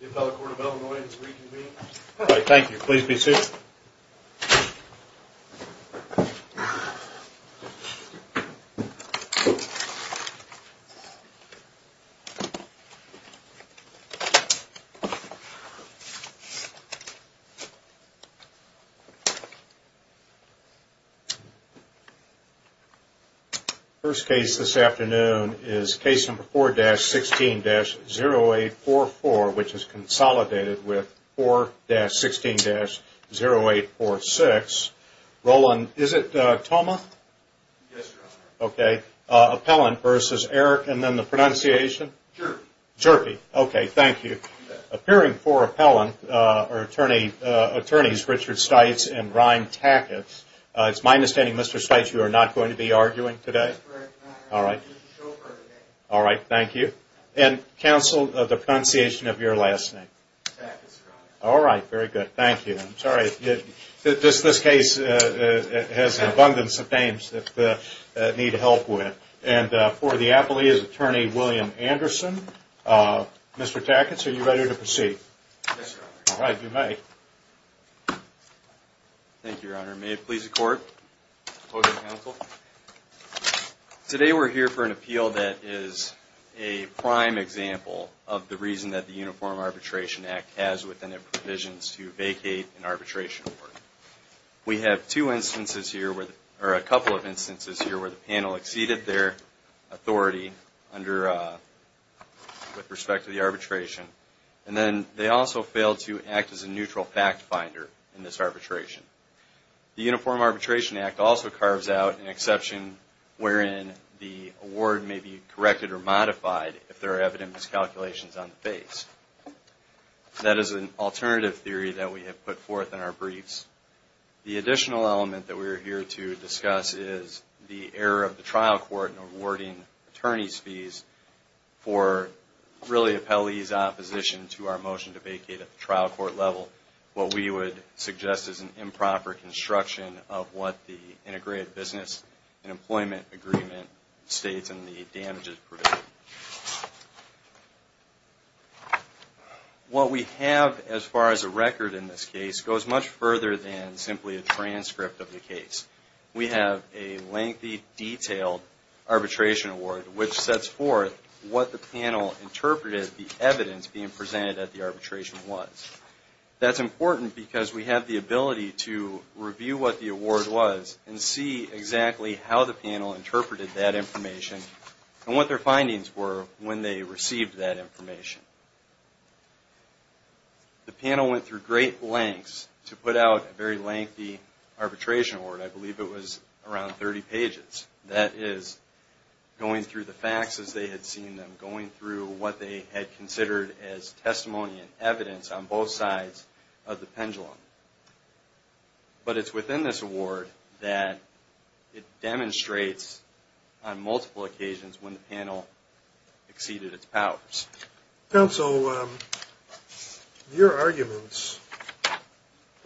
The appellate court of Illinois is reconvened. Thank you. Please be seated. First case this afternoon is case number 4-16-0844, which is consolidated with 4-16-0846. Roland, is it Thoma? Yes, Your Honor. Okay. Appellant v. Eric, and then the pronunciation? Hjerpe. Hjerpe. Okay, thank you. Appearing for appellant are attorneys Richard Stites and Ryan Tackett. It's my understanding, Mr. Stites, you are not going to be arguing today? That's correct, Your Honor. All right. And counsel, the pronunciation of your last name? Tackett, Your Honor. All right, very good. Thank you. I'm sorry. This case has an abundance of names that need help with. And for the appellee is attorney William Anderson. Mr. Tackett, are you ready to proceed? Yes, Your Honor. All right, you may. Thank you, Your Honor. May it please the court Opposing counsel, today we're here for an appeal that is a prime example of the reason that the Uniform Arbitration Act has within it provisions to vacate an arbitration board. We have two instances here, or a couple of instances here where the panel exceeded their authority under with respect to the arbitration. And then they also failed to act as a neutral fact finder in this arbitration. The Uniform Arbitration Act also carves out an exception wherein the award may be corrected or modified if there are evidence calculations on the base. That is an alternative theory that we have put forth in our briefs. The additional element that we are here to discuss is the error of the trial court in awarding attorney's fees for really appellee's opposition to our motion to vacate at the trial court level. What we would suggest is an improper construction of what the Integrated Business and Employment Agreement states in the damages provision. What we have as far as a record in this case goes much further than simply a transcript of the case. We have a lengthy, detailed arbitration award which sets forth what the panel interpreted the evidence being presented at That's important because we have the ability to review what the award was and see exactly how the panel interpreted that information and what their findings were when they received that information. The panel went through great lengths to put out a very lengthy arbitration award. I believe it was around 30 pages. That is going through the facts as they had seen them, going through what they had considered as testimony and evidence on both sides of the pendulum. But it's within this award that it demonstrates on multiple occasions when the panel exceeded its powers. Counsel, your arguments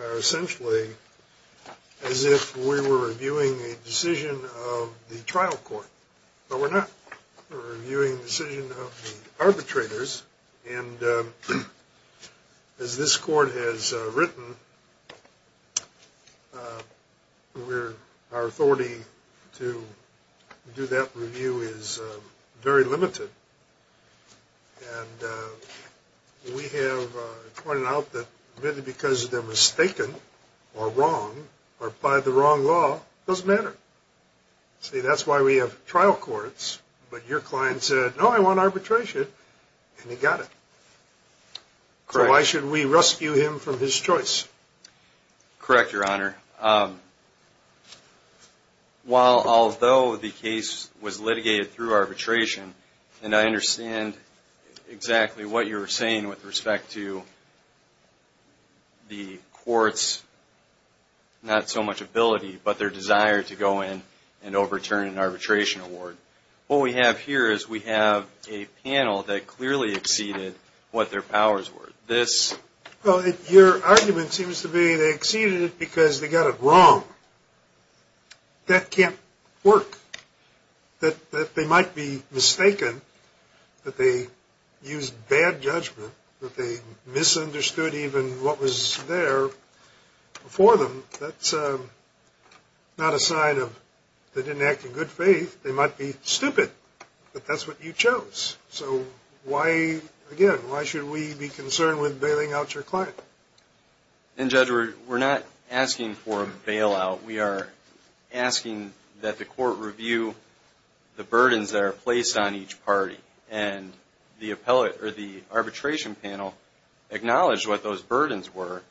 are essentially as if we were reviewing a decision of the trial court. But we're not. We're reviewing the decision of the arbitrators and as this court has written our authority to do that review is very limited. We have pointed out that maybe because they're mistaken or wrong or applied the wrong law, it doesn't matter. See, that's why we have trial courts. But your client said no, I want arbitration. And he got it. So why should we rescue him from his choice? Correct, Your Honor. While although the case was litigated through arbitration, and I understand exactly what you were saying with respect to the court's not so much ability but their desire to go in and overturn an arbitration award. What we have here is we have a panel that clearly exceeded what their powers were. Well, your argument seems to be they exceeded it because they got it wrong. That can't work. That they might be mistaken. That they used bad judgment. That they misunderstood even what was there before them. That's not a sign of good faith. They might be stupid. But that's what you chose. So why, again, why should we be concerned with bailing out your client? And Judge, we're not asking for a bailout. We are asking that the court review the burdens that are placed on each party. And the arbitration panel acknowledged what those burdens were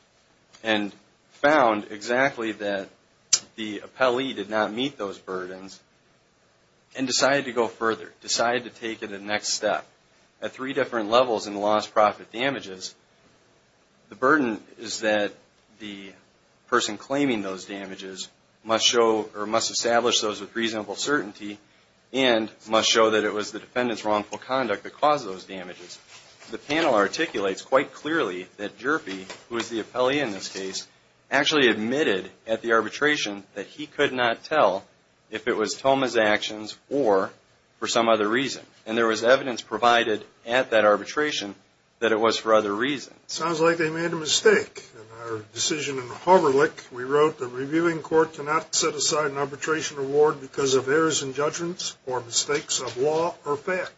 and found exactly that the appellee did not meet those burdens and decided to go further. Decided to take it a next step. At three different levels in the loss-profit damages, the burden is that the person claiming those damages must show or must establish those with reasonable certainty and must show that it was the defendant's wrongful conduct that caused those damages. The panel articulates quite clearly that Jerphy, who is the appellee in this case, actually admitted at the arbitration that he could not tell if it was Thoma's actions or for some other reason. And there was evidence provided at that arbitration that it was for other reasons. Sounds like they made a mistake. In our decision in the Hoverlick, we wrote, the reviewing court cannot set aside an arbitration award because of errors in judgments or mistakes of law or fact.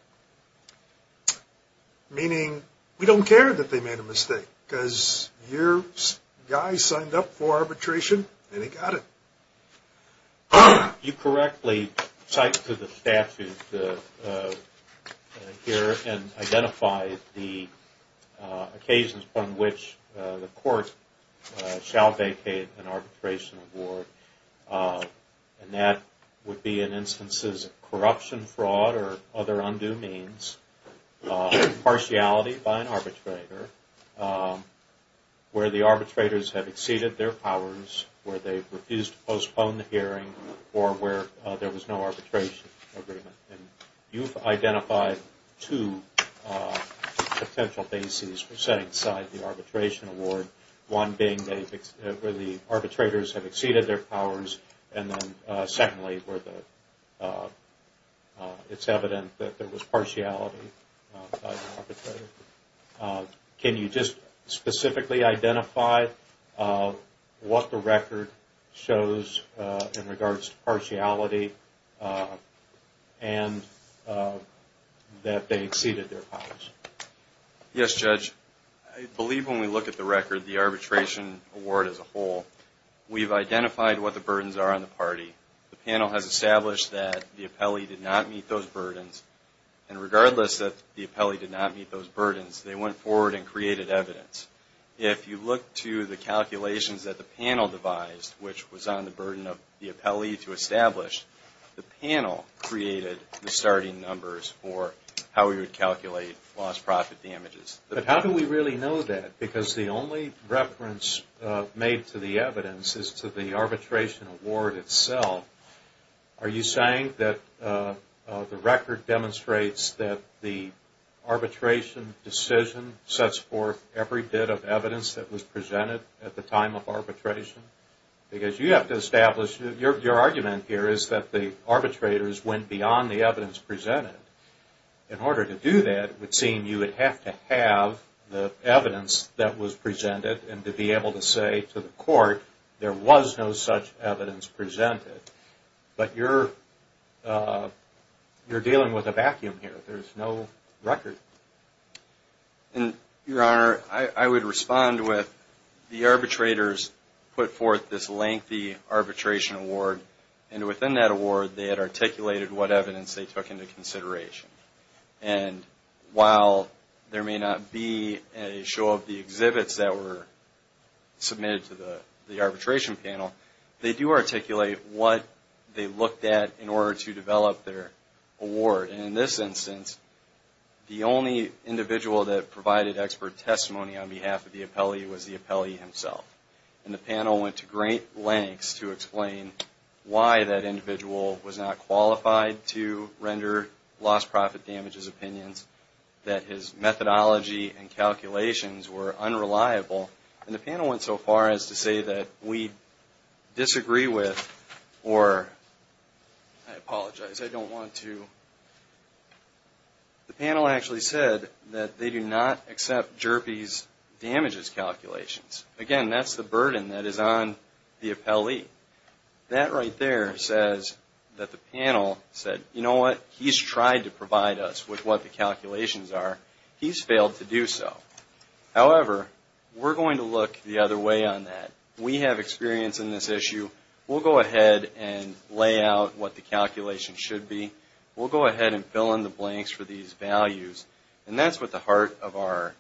Meaning, we don't care that they made a mistake. Because your guy signed up for arbitration and he got it. You correctly cite to the statute here and identify the occasions upon which the court shall vacate an arbitration award. And that would be in instances of corruption, fraud or other undue means, partiality by an arbitrator, where the arbitrators have exceeded their powers, where they refused to postpone the hearing or where there was no arbitration agreement. And you've identified two potential bases for setting aside the arbitration award. One being where the arbitrators have exceeded their powers and then secondly where it's evident that there was partiality by the arbitrator. Can you just specifically identify what the record shows in regards to partiality and that they exceeded their powers? Yes, Judge. I believe when we look at the record, the arbitration award as a whole, we've identified what the burdens are on the party. The panel has established that the appellee did not meet those burdens and regardless that the appellee did not meet those burdens, they went forward and created evidence. If you look to the calculations that the panel devised, which was on the burden of the appellee to establish, the panel created the starting numbers for how we would calculate loss-profit damages. But how do we really know that? Because the only reference made to the evidence is to the arbitration award itself. Are you saying that the record demonstrates that the arbitration decision sets forth every bit of evidence that was presented at the time of arbitration? Because you have to establish, your argument here is that the arbitrators went beyond the evidence presented. In order to do that, it would seem you would have to have the evidence that was presented and to be able to say to the court, there was no such evidence presented. But you're dealing with a vacuum here. There's no record. Your Honor, I would respond with the arbitrators put forth this lengthy arbitration award and within that award they had articulated what evidence they took into consideration. And while there may not be a show of the exhibits that were submitted to the arbitration panel, they do articulate what they looked at in order to develop their award. And in this instance, the only individual that provided expert testimony on behalf of the appellee was the appellee himself. And the panel went to great lengths to explain why that individual was not qualified to render loss-profit damages opinions, that his methodology and calculations were unreliable. And the panel went so far as to say that we disagree with or I apologize, I don't want to the panel actually said that they do not accept Jerby's damages calculations. Again, that's the burden that is on the appellee. That right there says that the panel said, you know what, he's tried to provide us with what the calculations are. He's failed to do so. However, we're going to look the other way on that. We have experience in this issue. We'll go ahead and lay out what the calculations should be. We'll go ahead and fill in the blanks for these values. And that's what the heart of our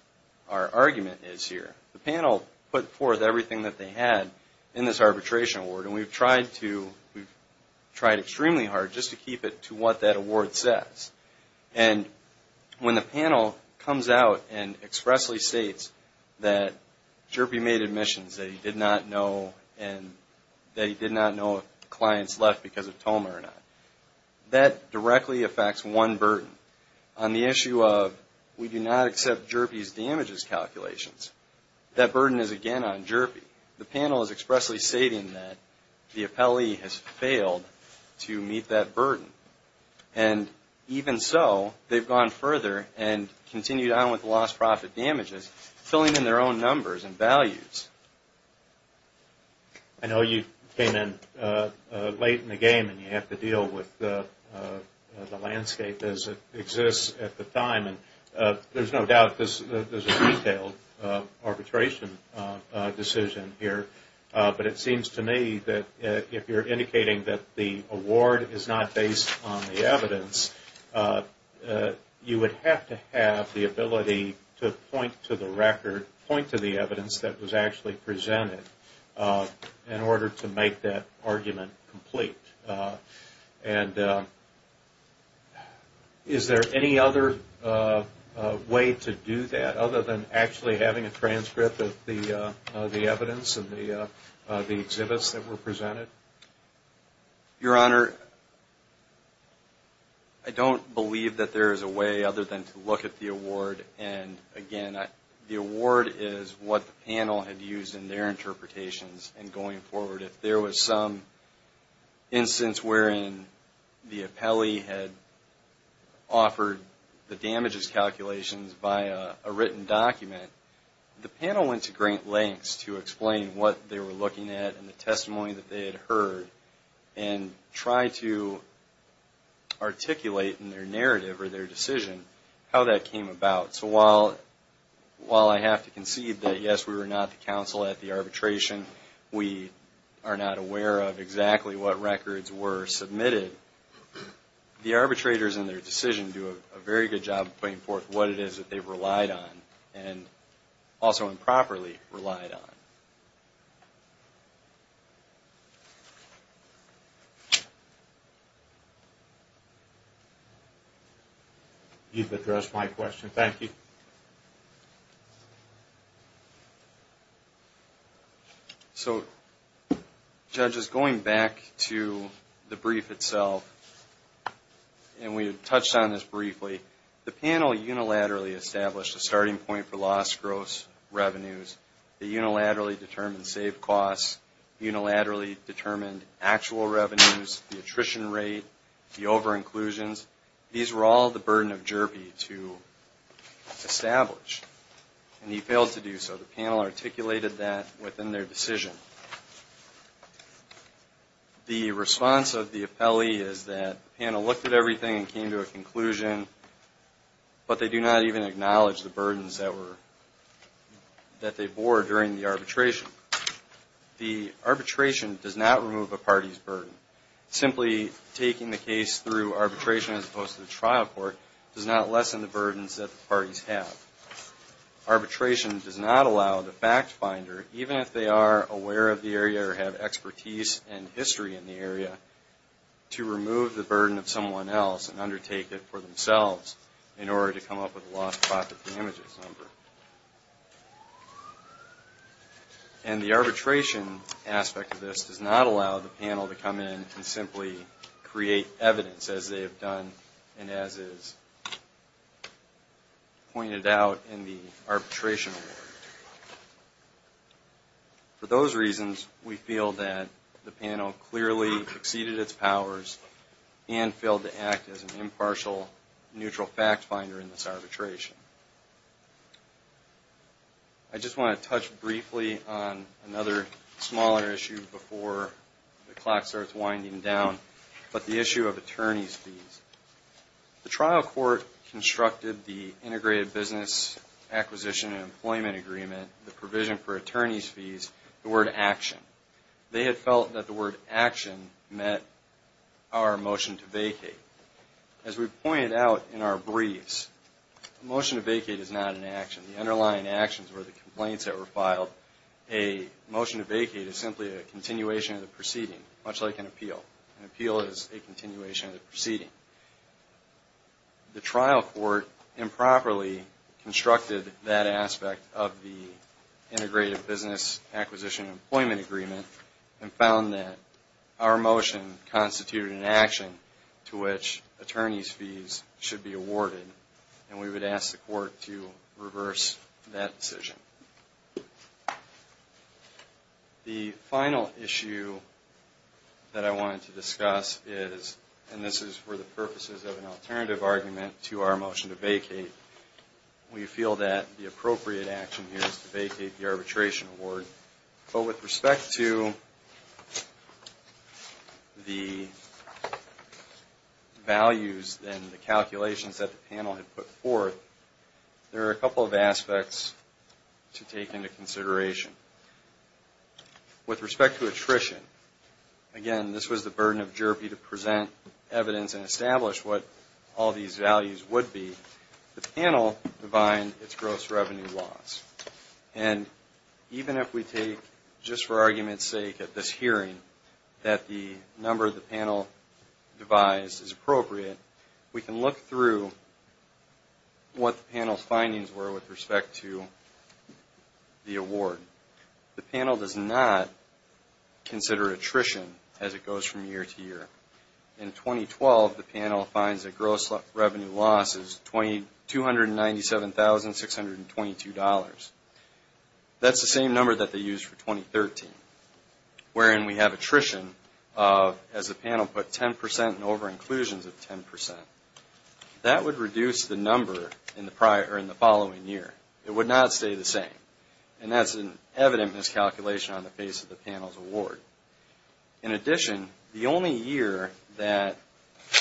argument is here. The panel put forth everything that they had in this arbitration award, and we've tried to, we've tried extremely hard just to keep it to what that award says. And when the panel comes out and expressly states that Jerby made admissions that he did not know and that he did not know if clients left because of Toma or not, that directly affects one burden. On the issue of we do not accept Jerby's damages calculations, that burden is again on Jerby. The panel is expressly stating that the appellee has failed to meet that burden. And even so, they've gone further and continued on with the lost profit damages, filling in their own numbers and values. I know you came in late in the game and you have to deal with the landscape as it exists at the time. There's no doubt this is a detailed arbitration decision here. But it seems to me that you would have to have the ability to point to the record, point to the evidence that was actually presented in order to make that argument complete. And is there any other way to do that other than actually the exhibits that were presented? Your Honor, I don't believe that there is a way other than to look at the award. And again, the award is what the panel had used in their interpretations in going forward. If there was some instance wherein the appellee had offered the damages calculations by a written document, the panel went to great lengths to explain what they were heard and try to articulate in their narrative or their decision how that came about. So while I have to concede that yes, we were not the counsel at the arbitration, we are not aware of exactly what records were submitted, the arbitrators in their decision do a very good job of putting forth what it is that they've relied on and also improperly relied on. Thank you. You've addressed my question. Thank you. So judges, going back to the brief itself, and we had touched on this briefly, the panel unilaterally established a starting point for lost gross revenues, the unilaterally determined saved costs, unilaterally determined actual revenues, the attrition rate, the over-inclusions. These were all the burden of Jerby to establish, and he failed to do so. The panel articulated that within their decision. The response of the appellee is that the panel looked at everything and came to a conclusion, but they do not even acknowledge the burdens that they bore during the arbitration. The arbitration does not remove a party's burden. Simply taking the case through arbitration as opposed to the trial court does not lessen the burdens that the parties have. Arbitration does not allow the fact finder, even if they are aware of the area or have expertise and history in the area, to remove the burden of someone else and undertake it for themselves in order to come up with a lost profit damages number. And the arbitration aspect of this does not allow the panel to come in and simply create evidence as they have done and as is pointed out in the arbitration award. For those reasons, we feel that the panel clearly exceeded its powers and failed to act as an impartial, neutral fact finder in this arbitration. I just want to touch briefly on another smaller issue before the clock starts winding down, but the issue of attorney's fees. The trial court constructed the Integrated Business Acquisition and Employment Agreement, the provision for attorney's fees, the word action. They had felt that the word action met our motion to vacate. As we pointed out in our briefs, a motion to vacate is not an action. The underlying actions were the complaints that were filed. A motion to vacate is simply a continuation of the proceeding, much like an appeal. An appeal is a continuation of the proceeding. The trial court improperly constructed that aspect of the Integrated Business Acquisition and Employment Agreement and found that our motion constituted an action to which attorney's fees should be awarded, and we would ask the court to reverse that decision. The final issue that I wanted to discuss is, and this is for the purposes of an alternative argument to our motion to vacate, we feel that the appropriate action here is to vacate the arbitration award, but with respect to the values and the calculations that the panel had put forth, there are a couple of aspects to take into consideration. With respect to attrition, again, this was the burden of JRP to present evidence and establish what all these values would be. The panel defined its gross revenue loss, and even if we take, just for argument's sake at this hearing, that the number the panel devised is appropriate, we can look through what the panel's findings were with respect to the award. The panel does not consider attrition as it goes from year to year. In 2012, the panel finds that gross revenue loss is $297,622. That's the same number that they used for 2013, wherein we have attrition of, as the panel put, 10% and over-inclusions of 10%. That would reduce the number in the following year. It would not stay the same, and that's an evident miscalculation on the face of the panel's award. In addition, the only year that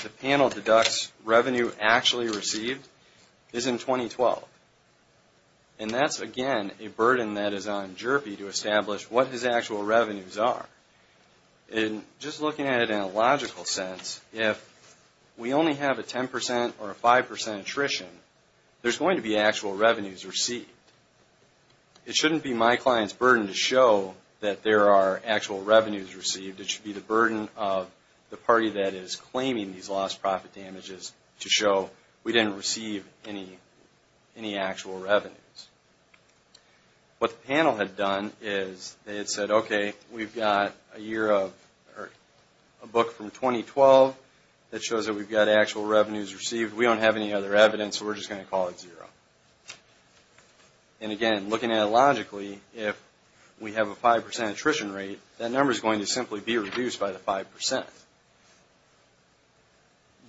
the panel deducts revenue actually received is in 2012, and that's again a burden that is on JRP to establish what his actual revenues are. Just looking at it in a logical sense, if we only have a 10% or a 5% attrition, there's going to be actual revenues received. It shouldn't be my client's burden to show that there are actual revenues received. It should be the burden of the party that is claiming these lost profit damages to show we didn't receive any actual revenues. What the panel had done is they had said, okay, we've got a year of, or a book from 2012 that shows that we've got actual revenues received. We don't have any other evidence, so we're just going to call it zero. And again, looking at it logically, if we have a 5% attrition rate, that number is going to simply be reduced by the 5%.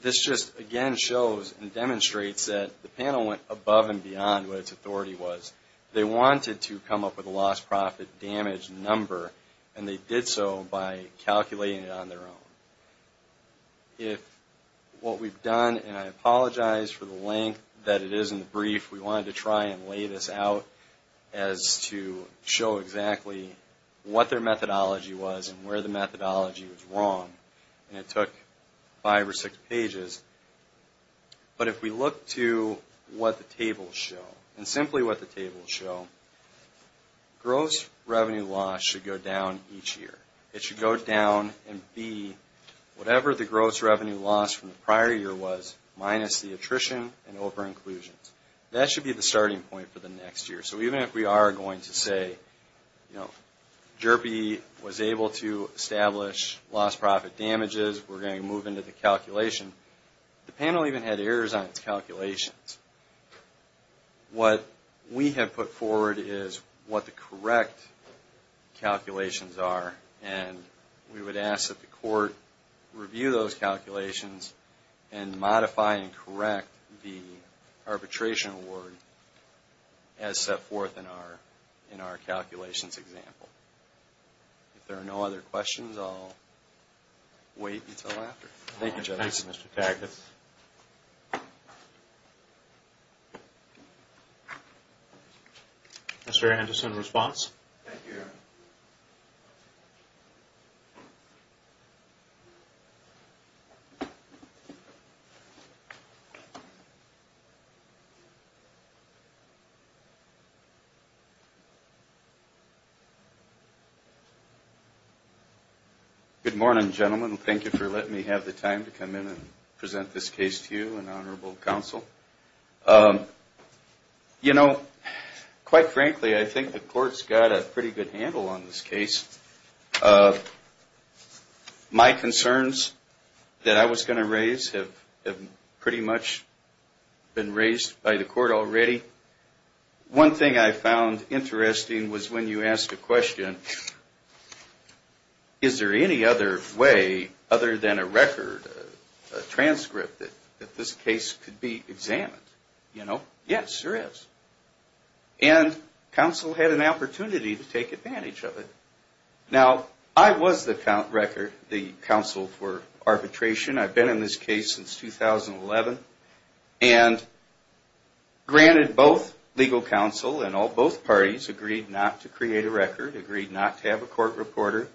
This just again shows and demonstrates that the panel went above and beyond what its authority was. They wanted to come up with a lost profit damage number, and they did so by calculating it on their own. If what we've done, and I apologize for the length that it is in the brief, we wanted to try and lay this out as to show exactly what their methodology was and where the took five or six pages. But if we look to what the tables show, and simply what the tables show, gross revenue loss should go down each year. It should go down and be whatever the gross revenue loss from the prior year was, minus the attrition and over-inclusions. That should be the starting point for the next year. So even if we are going to say you know, Jerby was able to establish lost profit damages, we're going to move into the calculation. The panel even had errors on its calculations. What we have put forward is what the correct calculations are, and we would ask that the court review those calculations and modify and correct the arbitration award as set forth in our calculations example. If there are no other questions, I'll wait until after. Thank you Judge. Mr. Anderson, response? Good morning, gentlemen. Thank you for letting me have the time to come in and present this case to you and honorable counsel. You know, quite frankly, I think the court's got a pretty good handle on this case. My concerns that I was going to raise have pretty much been raised by the court already. One thing I found interesting was when you asked a question, is there any other way other than a record, a transcript that this case could be examined? Yes, there is. And counsel had an opportunity to take advantage of it. Now, I was the counsel for arbitration. I've been in this case since 2011, and granted both legal counsel and both parties agreed not to create a record, agreed not to have a court reporter.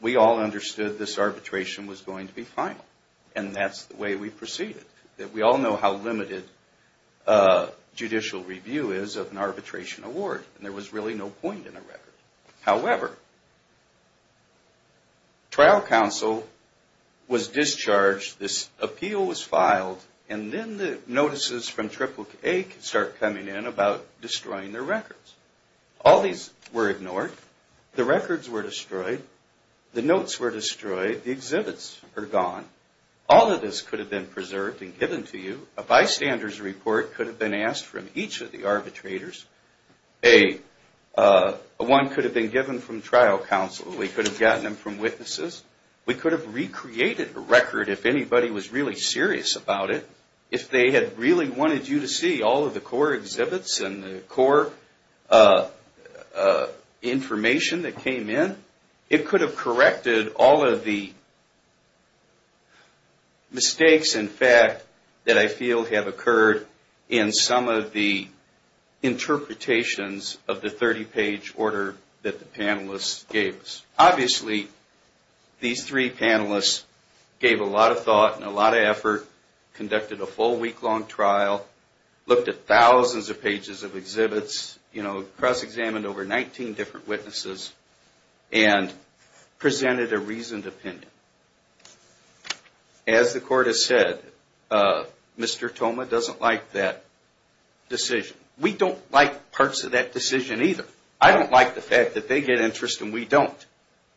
We all understood this arbitration was going to be final, and that's the way we proceeded. We all know how limited judicial review is of an arbitration award, and there was really no point in a record. was discharged, this appeal was filed, and then the notices from AAA could start coming in about destroying their records. All these were ignored. The records were destroyed. The notes were destroyed. The exhibits were gone. All of this could have been preserved and given to you. A bystander's report could have been asked from each of the arbitrators. One could have been given from trial counsel. We could have gotten them from witnesses. We could have recreated a record if anybody was really serious about it. If they had really wanted you to see all of the core exhibits and the core information that came in, it could have corrected all of the mistakes in fact that I feel have occurred in some of the interpretations of the 30-page order that the panelists gave us. Obviously, these three panelists gave a lot of thought and a lot of effort, conducted a full week-long trial, looked at thousands of pages of exhibits, cross-examined over 19 different witnesses, and presented a reasoned opinion. As the Court has said, Mr. Thoma doesn't like that decision. We don't like parts of that decision either. I don't like the fact that they get interest and we don't.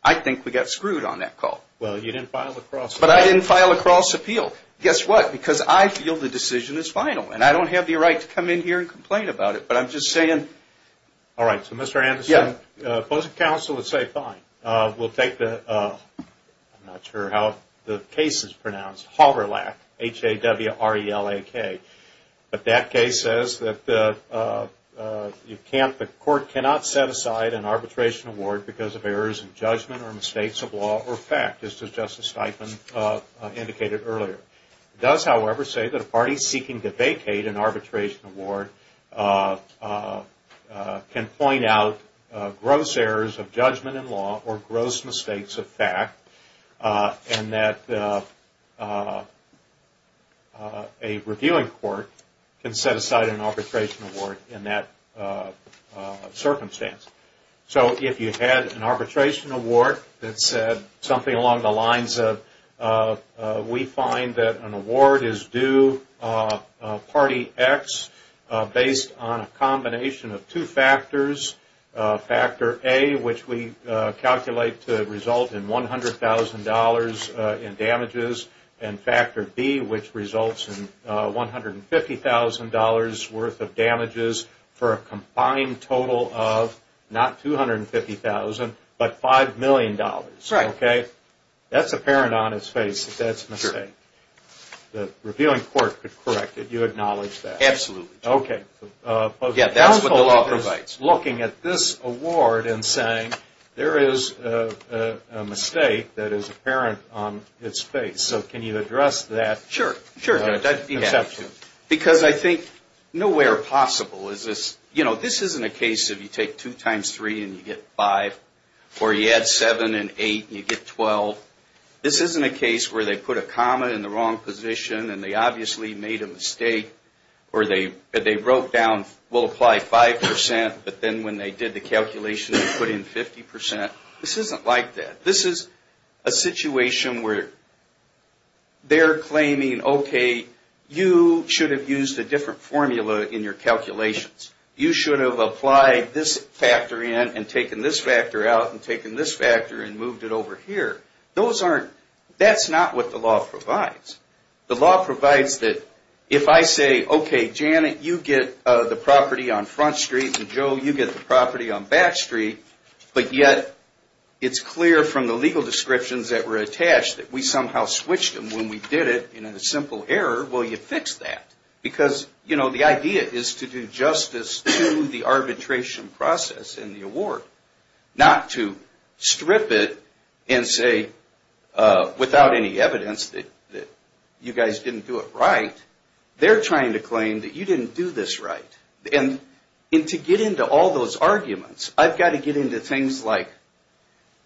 I think we got screwed on that call. I didn't file a cross-appeal. Guess what? Because I feel the decision is final. I don't have the right to come in here and complain about it, but I'm just saying. Mr. Anderson, both counsel would say fine. I'm not sure how the case is pronounced. HAWRELAK. H-A-W-R-E-L-A-K. That case says that the Court cannot set aside an arbitration award because of errors in judgment or mistakes of law or fact as Justice Steiffen indicated earlier. It does, however, say that a party seeking to vacate an arbitration award can point out gross errors of judgment in law or gross mistakes of fact and that a reviewing court can set aside an arbitration award in that circumstance. So if you had an arbitration award that said something along the lines of we find that an award is due party X based on a combination of two factors. Factor A, which we calculate to result in $100,000 in damages, and Factor B, which results in $150,000 worth of damages for a combined total of not $250,000 but $5,000,000. That's apparent on its face that that's a mistake. The reviewing court could correct it. You acknowledge that? Counsel is looking at this award and saying there is a mistake that is apparent on its face. Can you address that? Because I think nowhere possible is this you know, this isn't a case of you take 2 times 3 and you get 5 or you add 7 and 8 and you get 12. This isn't a case where they put a comma in the wrong position and they obviously made a mistake or they wrote down we'll apply 5% but then when they did the calculation they put in 50%. This isn't like that. This is a situation where they're claiming, okay, you should have used a different formula in your calculations. You should have applied this factor in and taken this factor out and taken this factor and moved it over here. That's not what the law provides. The law provides that if I say, okay Janet you get the property on Front Street and Joe you get the property on Back Street, but yet it's clear from the legal descriptions that were attached that we somehow switched them when we did it in a simple error. Well, you fixed that. Because, you know, the idea is to do justice to the arbitration process in the award. Not to strip it and say without any evidence that you guys didn't do it right. They're trying to claim that you didn't do this right. And to get into all those arguments, I've got to get into things like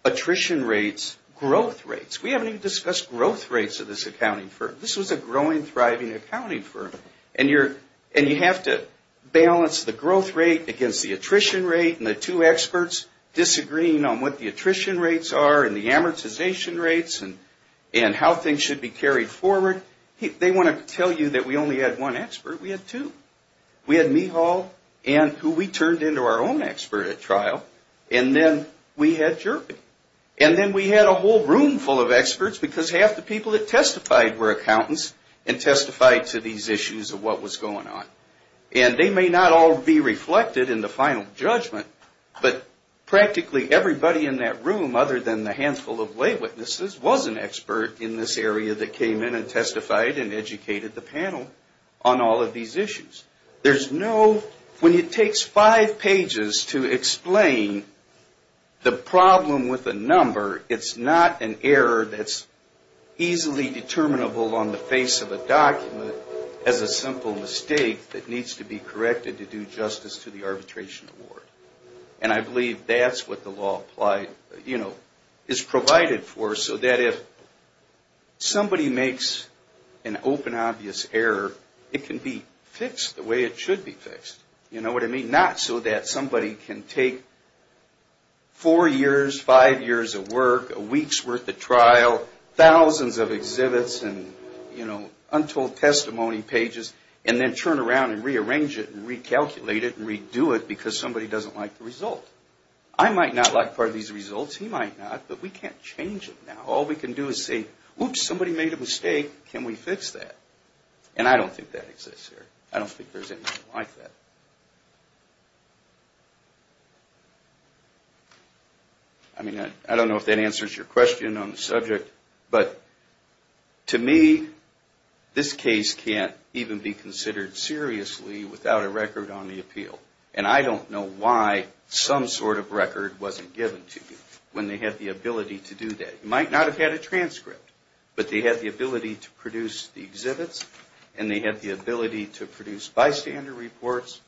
attrition rates, growth rates. We haven't even discussed growth rates at this accounting firm. This was a growing, thriving accounting firm. And you have to balance the growth rate against the attrition rate and the two experts disagreeing on what the attrition rates are and the amortization rates and how things should be carried forward. They want to tell you that we only had one expert. We had two. We had Mehal and who we turned into our own expert at trial and then we had Jerby. And then we had a whole room full of experts because half the people that testified were accountants and testified to these issues of what was going on. And they may not all be reflected in the final judgment, but practically everybody in that room other than the handful of lay witnesses was an expert in this area that came in and testified and educated the panel on all of these issues. There's no, when it takes five pages to explain the problem with a number, it's not an error that's easily determinable on the face of a document as a simple mistake that needs to be corrected to do justice to the arbitration award. And I believe that's what the law is provided for so that if somebody makes an open, obvious error, it can be fixed the way it should be so that somebody can take four years, five years of work, a week's worth of trial, thousands of exhibits and untold testimony pages and then turn around and rearrange it and recalculate it and redo it because somebody doesn't like the result. I might not like part of these results, he might not, but we can't change it now. All we can do is say, oops, somebody made a mistake, can we fix that? And I don't think that exists here. I don't think there's anything like that. I mean, I don't know if that answers your question on the subject, but to me, this case can't even be considered seriously without a record on the appeal. And I don't know why some sort of record wasn't given to you when they had the ability to do that. You might not have had a transcript, but you had the ability to produce bystander reports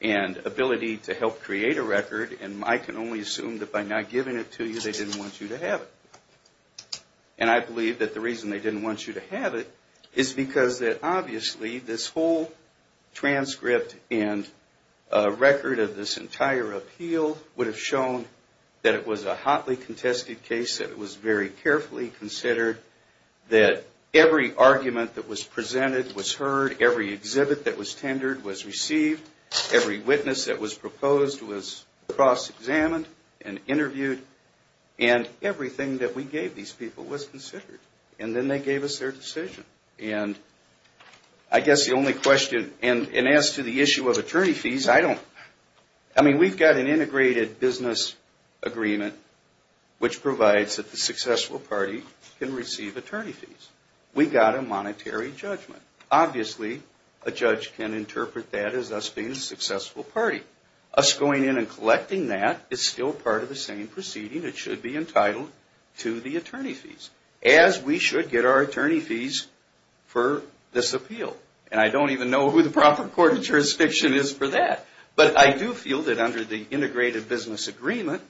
and ability to help create a record, and I can only assume that by not giving it to you, they didn't want you to have it. And I believe that the reason they didn't want you to have it is because obviously this whole transcript and record of this entire appeal would have shown that it was a hotly contested case, that it was very carefully considered, that every argument that was made, every exhibit that was tendered was received, every witness that was proposed was cross-examined and interviewed, and everything that we gave these people was considered. And then they gave us their decision. And I guess the only question, and as to the issue of attorney fees, I don't, I mean, we've got an integrated business agreement which provides that the successful party can receive attorney fees. We've got a monetary judgment. Obviously a judge can interpret that as us being a successful party. Us going in and collecting that is still part of the same proceeding. It should be entitled to the attorney fees as we should get our attorney fees for this appeal. And I don't even know who the proper court of jurisdiction is for that. But I do feel that under the integrated business agreement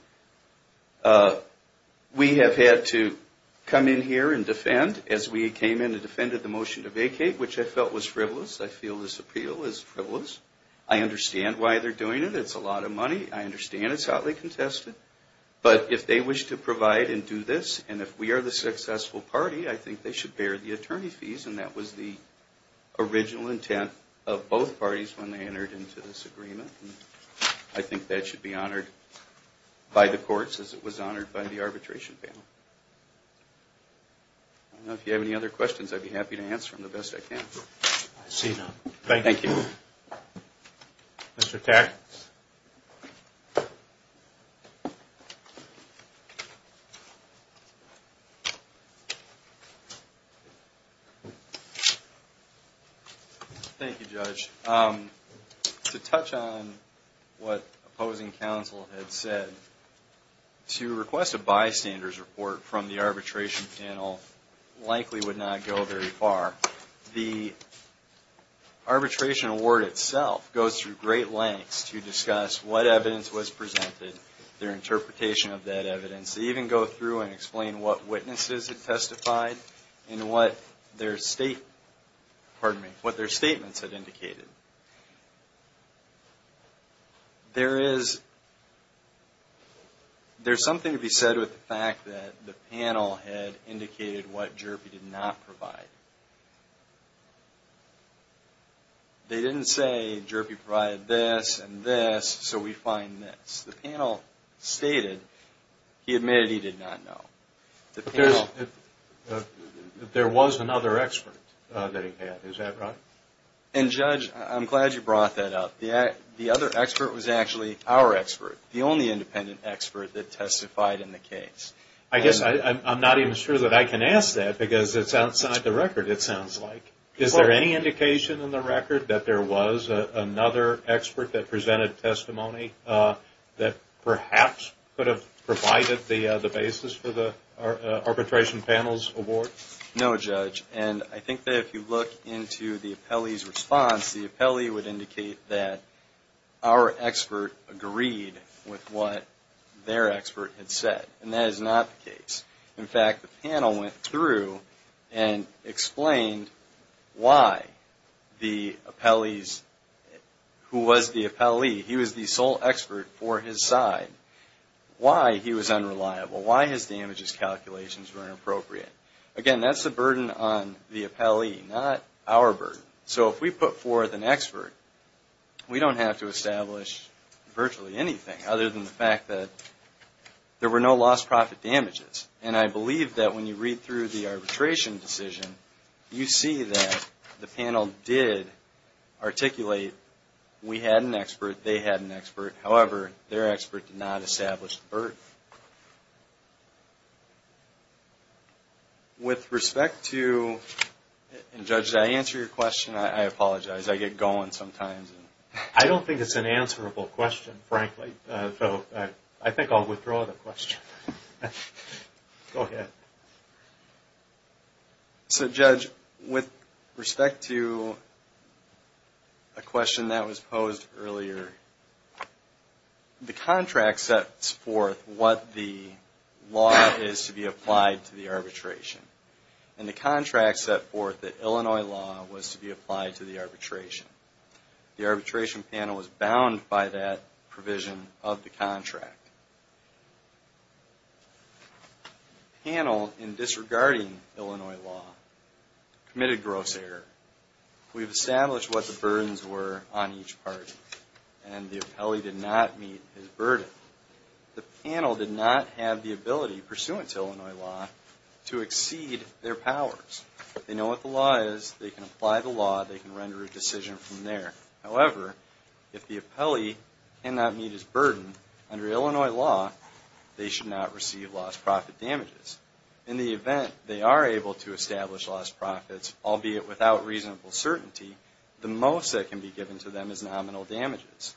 we have had to come in here and defend as we came in and defended the motion to vacate, which I felt was frivolous. I feel this appeal is frivolous. I understand why they're doing it. It's a lot of money. I understand it's hotly contested. But if they wish to provide and do this, and if we are the successful party, I think they should bear the attorney fees. And that was the original intent of both parties when they entered into this agreement. And I think that should be honored by the courts as it was honored by the arbitration panel. I don't know if you have any other questions. I'd be happy to answer them the best I can. Thank you. Thank you, Judge. To touch on what opposing counsel had said, to request a bystander's report from the arbitration panel likely would not go very far. The arbitration award itself goes through great lengths to discuss what evidence was presented, their interpretation of that evidence. They even go through and explain what witnesses had testified and what their statements had indicated. There is something to be said with the fact that the panel had indicated what Jerpy did not provide. They didn't say Jerpy provided this and this, so we find this. The panel stated he admitted he did not know. There was another expert that he had. And, Judge, I'm glad you brought that up. The other expert was actually our expert, the only independent expert that testified in the case. I guess I'm not even sure that I can ask that because it's outside the record, it sounds like. Is there any indication in the record that there was another expert that presented testimony that perhaps could have provided the basis for the arbitration panel's award? No, Judge. And I think that if you look into the appellee's response, the appellee would indicate that our expert agreed with what their expert had said. And that is not the case. In fact, the panel went through and explained why the appellee's who was the appellee, he was the sole expert for his side, why he was unreliable, why his damages calculations were inappropriate. Again, that's the burden on the appellee, not our burden. So if we put forth an expert, we don't have to establish virtually anything other than the fact that there were no lost profit damages. And I believe that when you read through the arbitration decision, you see that the panel did articulate we had an expert, they had an expert, however their expert did not establish the burden. With respect to and Judge, did I answer your question? I apologize. I get going sometimes. I don't think it's an answerable question, frankly. So I think I'll withdraw the question. Go ahead. So Judge, with respect to a question that was posed earlier, the contract sets forth what the law is to be applied to the arbitration. And the contract set forth that Illinois law was to be applied to the arbitration. The arbitration panel was bound by that provision of the contract. The panel, in disregarding Illinois law, committed gross error. We've established what the burdens were on each party. And the appellee did not meet his burden. The panel did not have the ability, pursuant to Illinois law, to exceed their powers. They know what the law is, they can apply the law, they can render a decision from there. However, if the appellee cannot meet his burden under Illinois law, they should not receive lost profit damages. In the event they are able to establish lost profits, albeit without reasonable uncertainty, the most that can be given to them is nominal damages.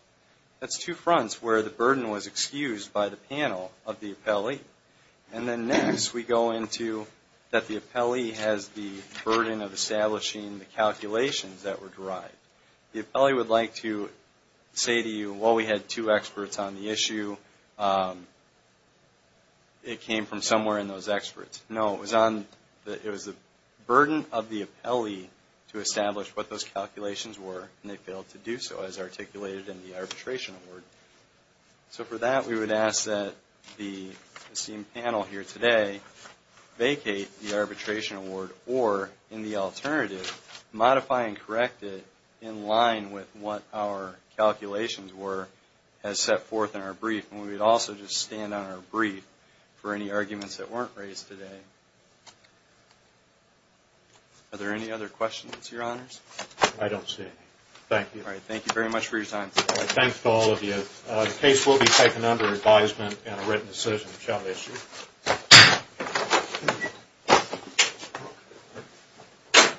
That's two fronts where the burden was excused by the panel of the appellee. And then next, we go into that the appellee has the burden of establishing the calculations that were derived. The appellee would like to say to you, well, we had two experts on the issue. It came from somewhere in those experts. No, it was the burden of the appellee to establish what those calculations were, and they failed to do so, as articulated in the arbitration award. So for that, we would ask that the esteemed panel here today vacate the arbitration award or, in the alternative, modify and correct it in line with what our calculations were as set forth in our brief. And we would also just stand on our brief for any arguments that weren't raised today. Are there any other questions, Your Honors? I don't see any. Thank you. Thank you very much for your time. Thanks to all of you. The case will be taken under advisement and a written decision shall issue.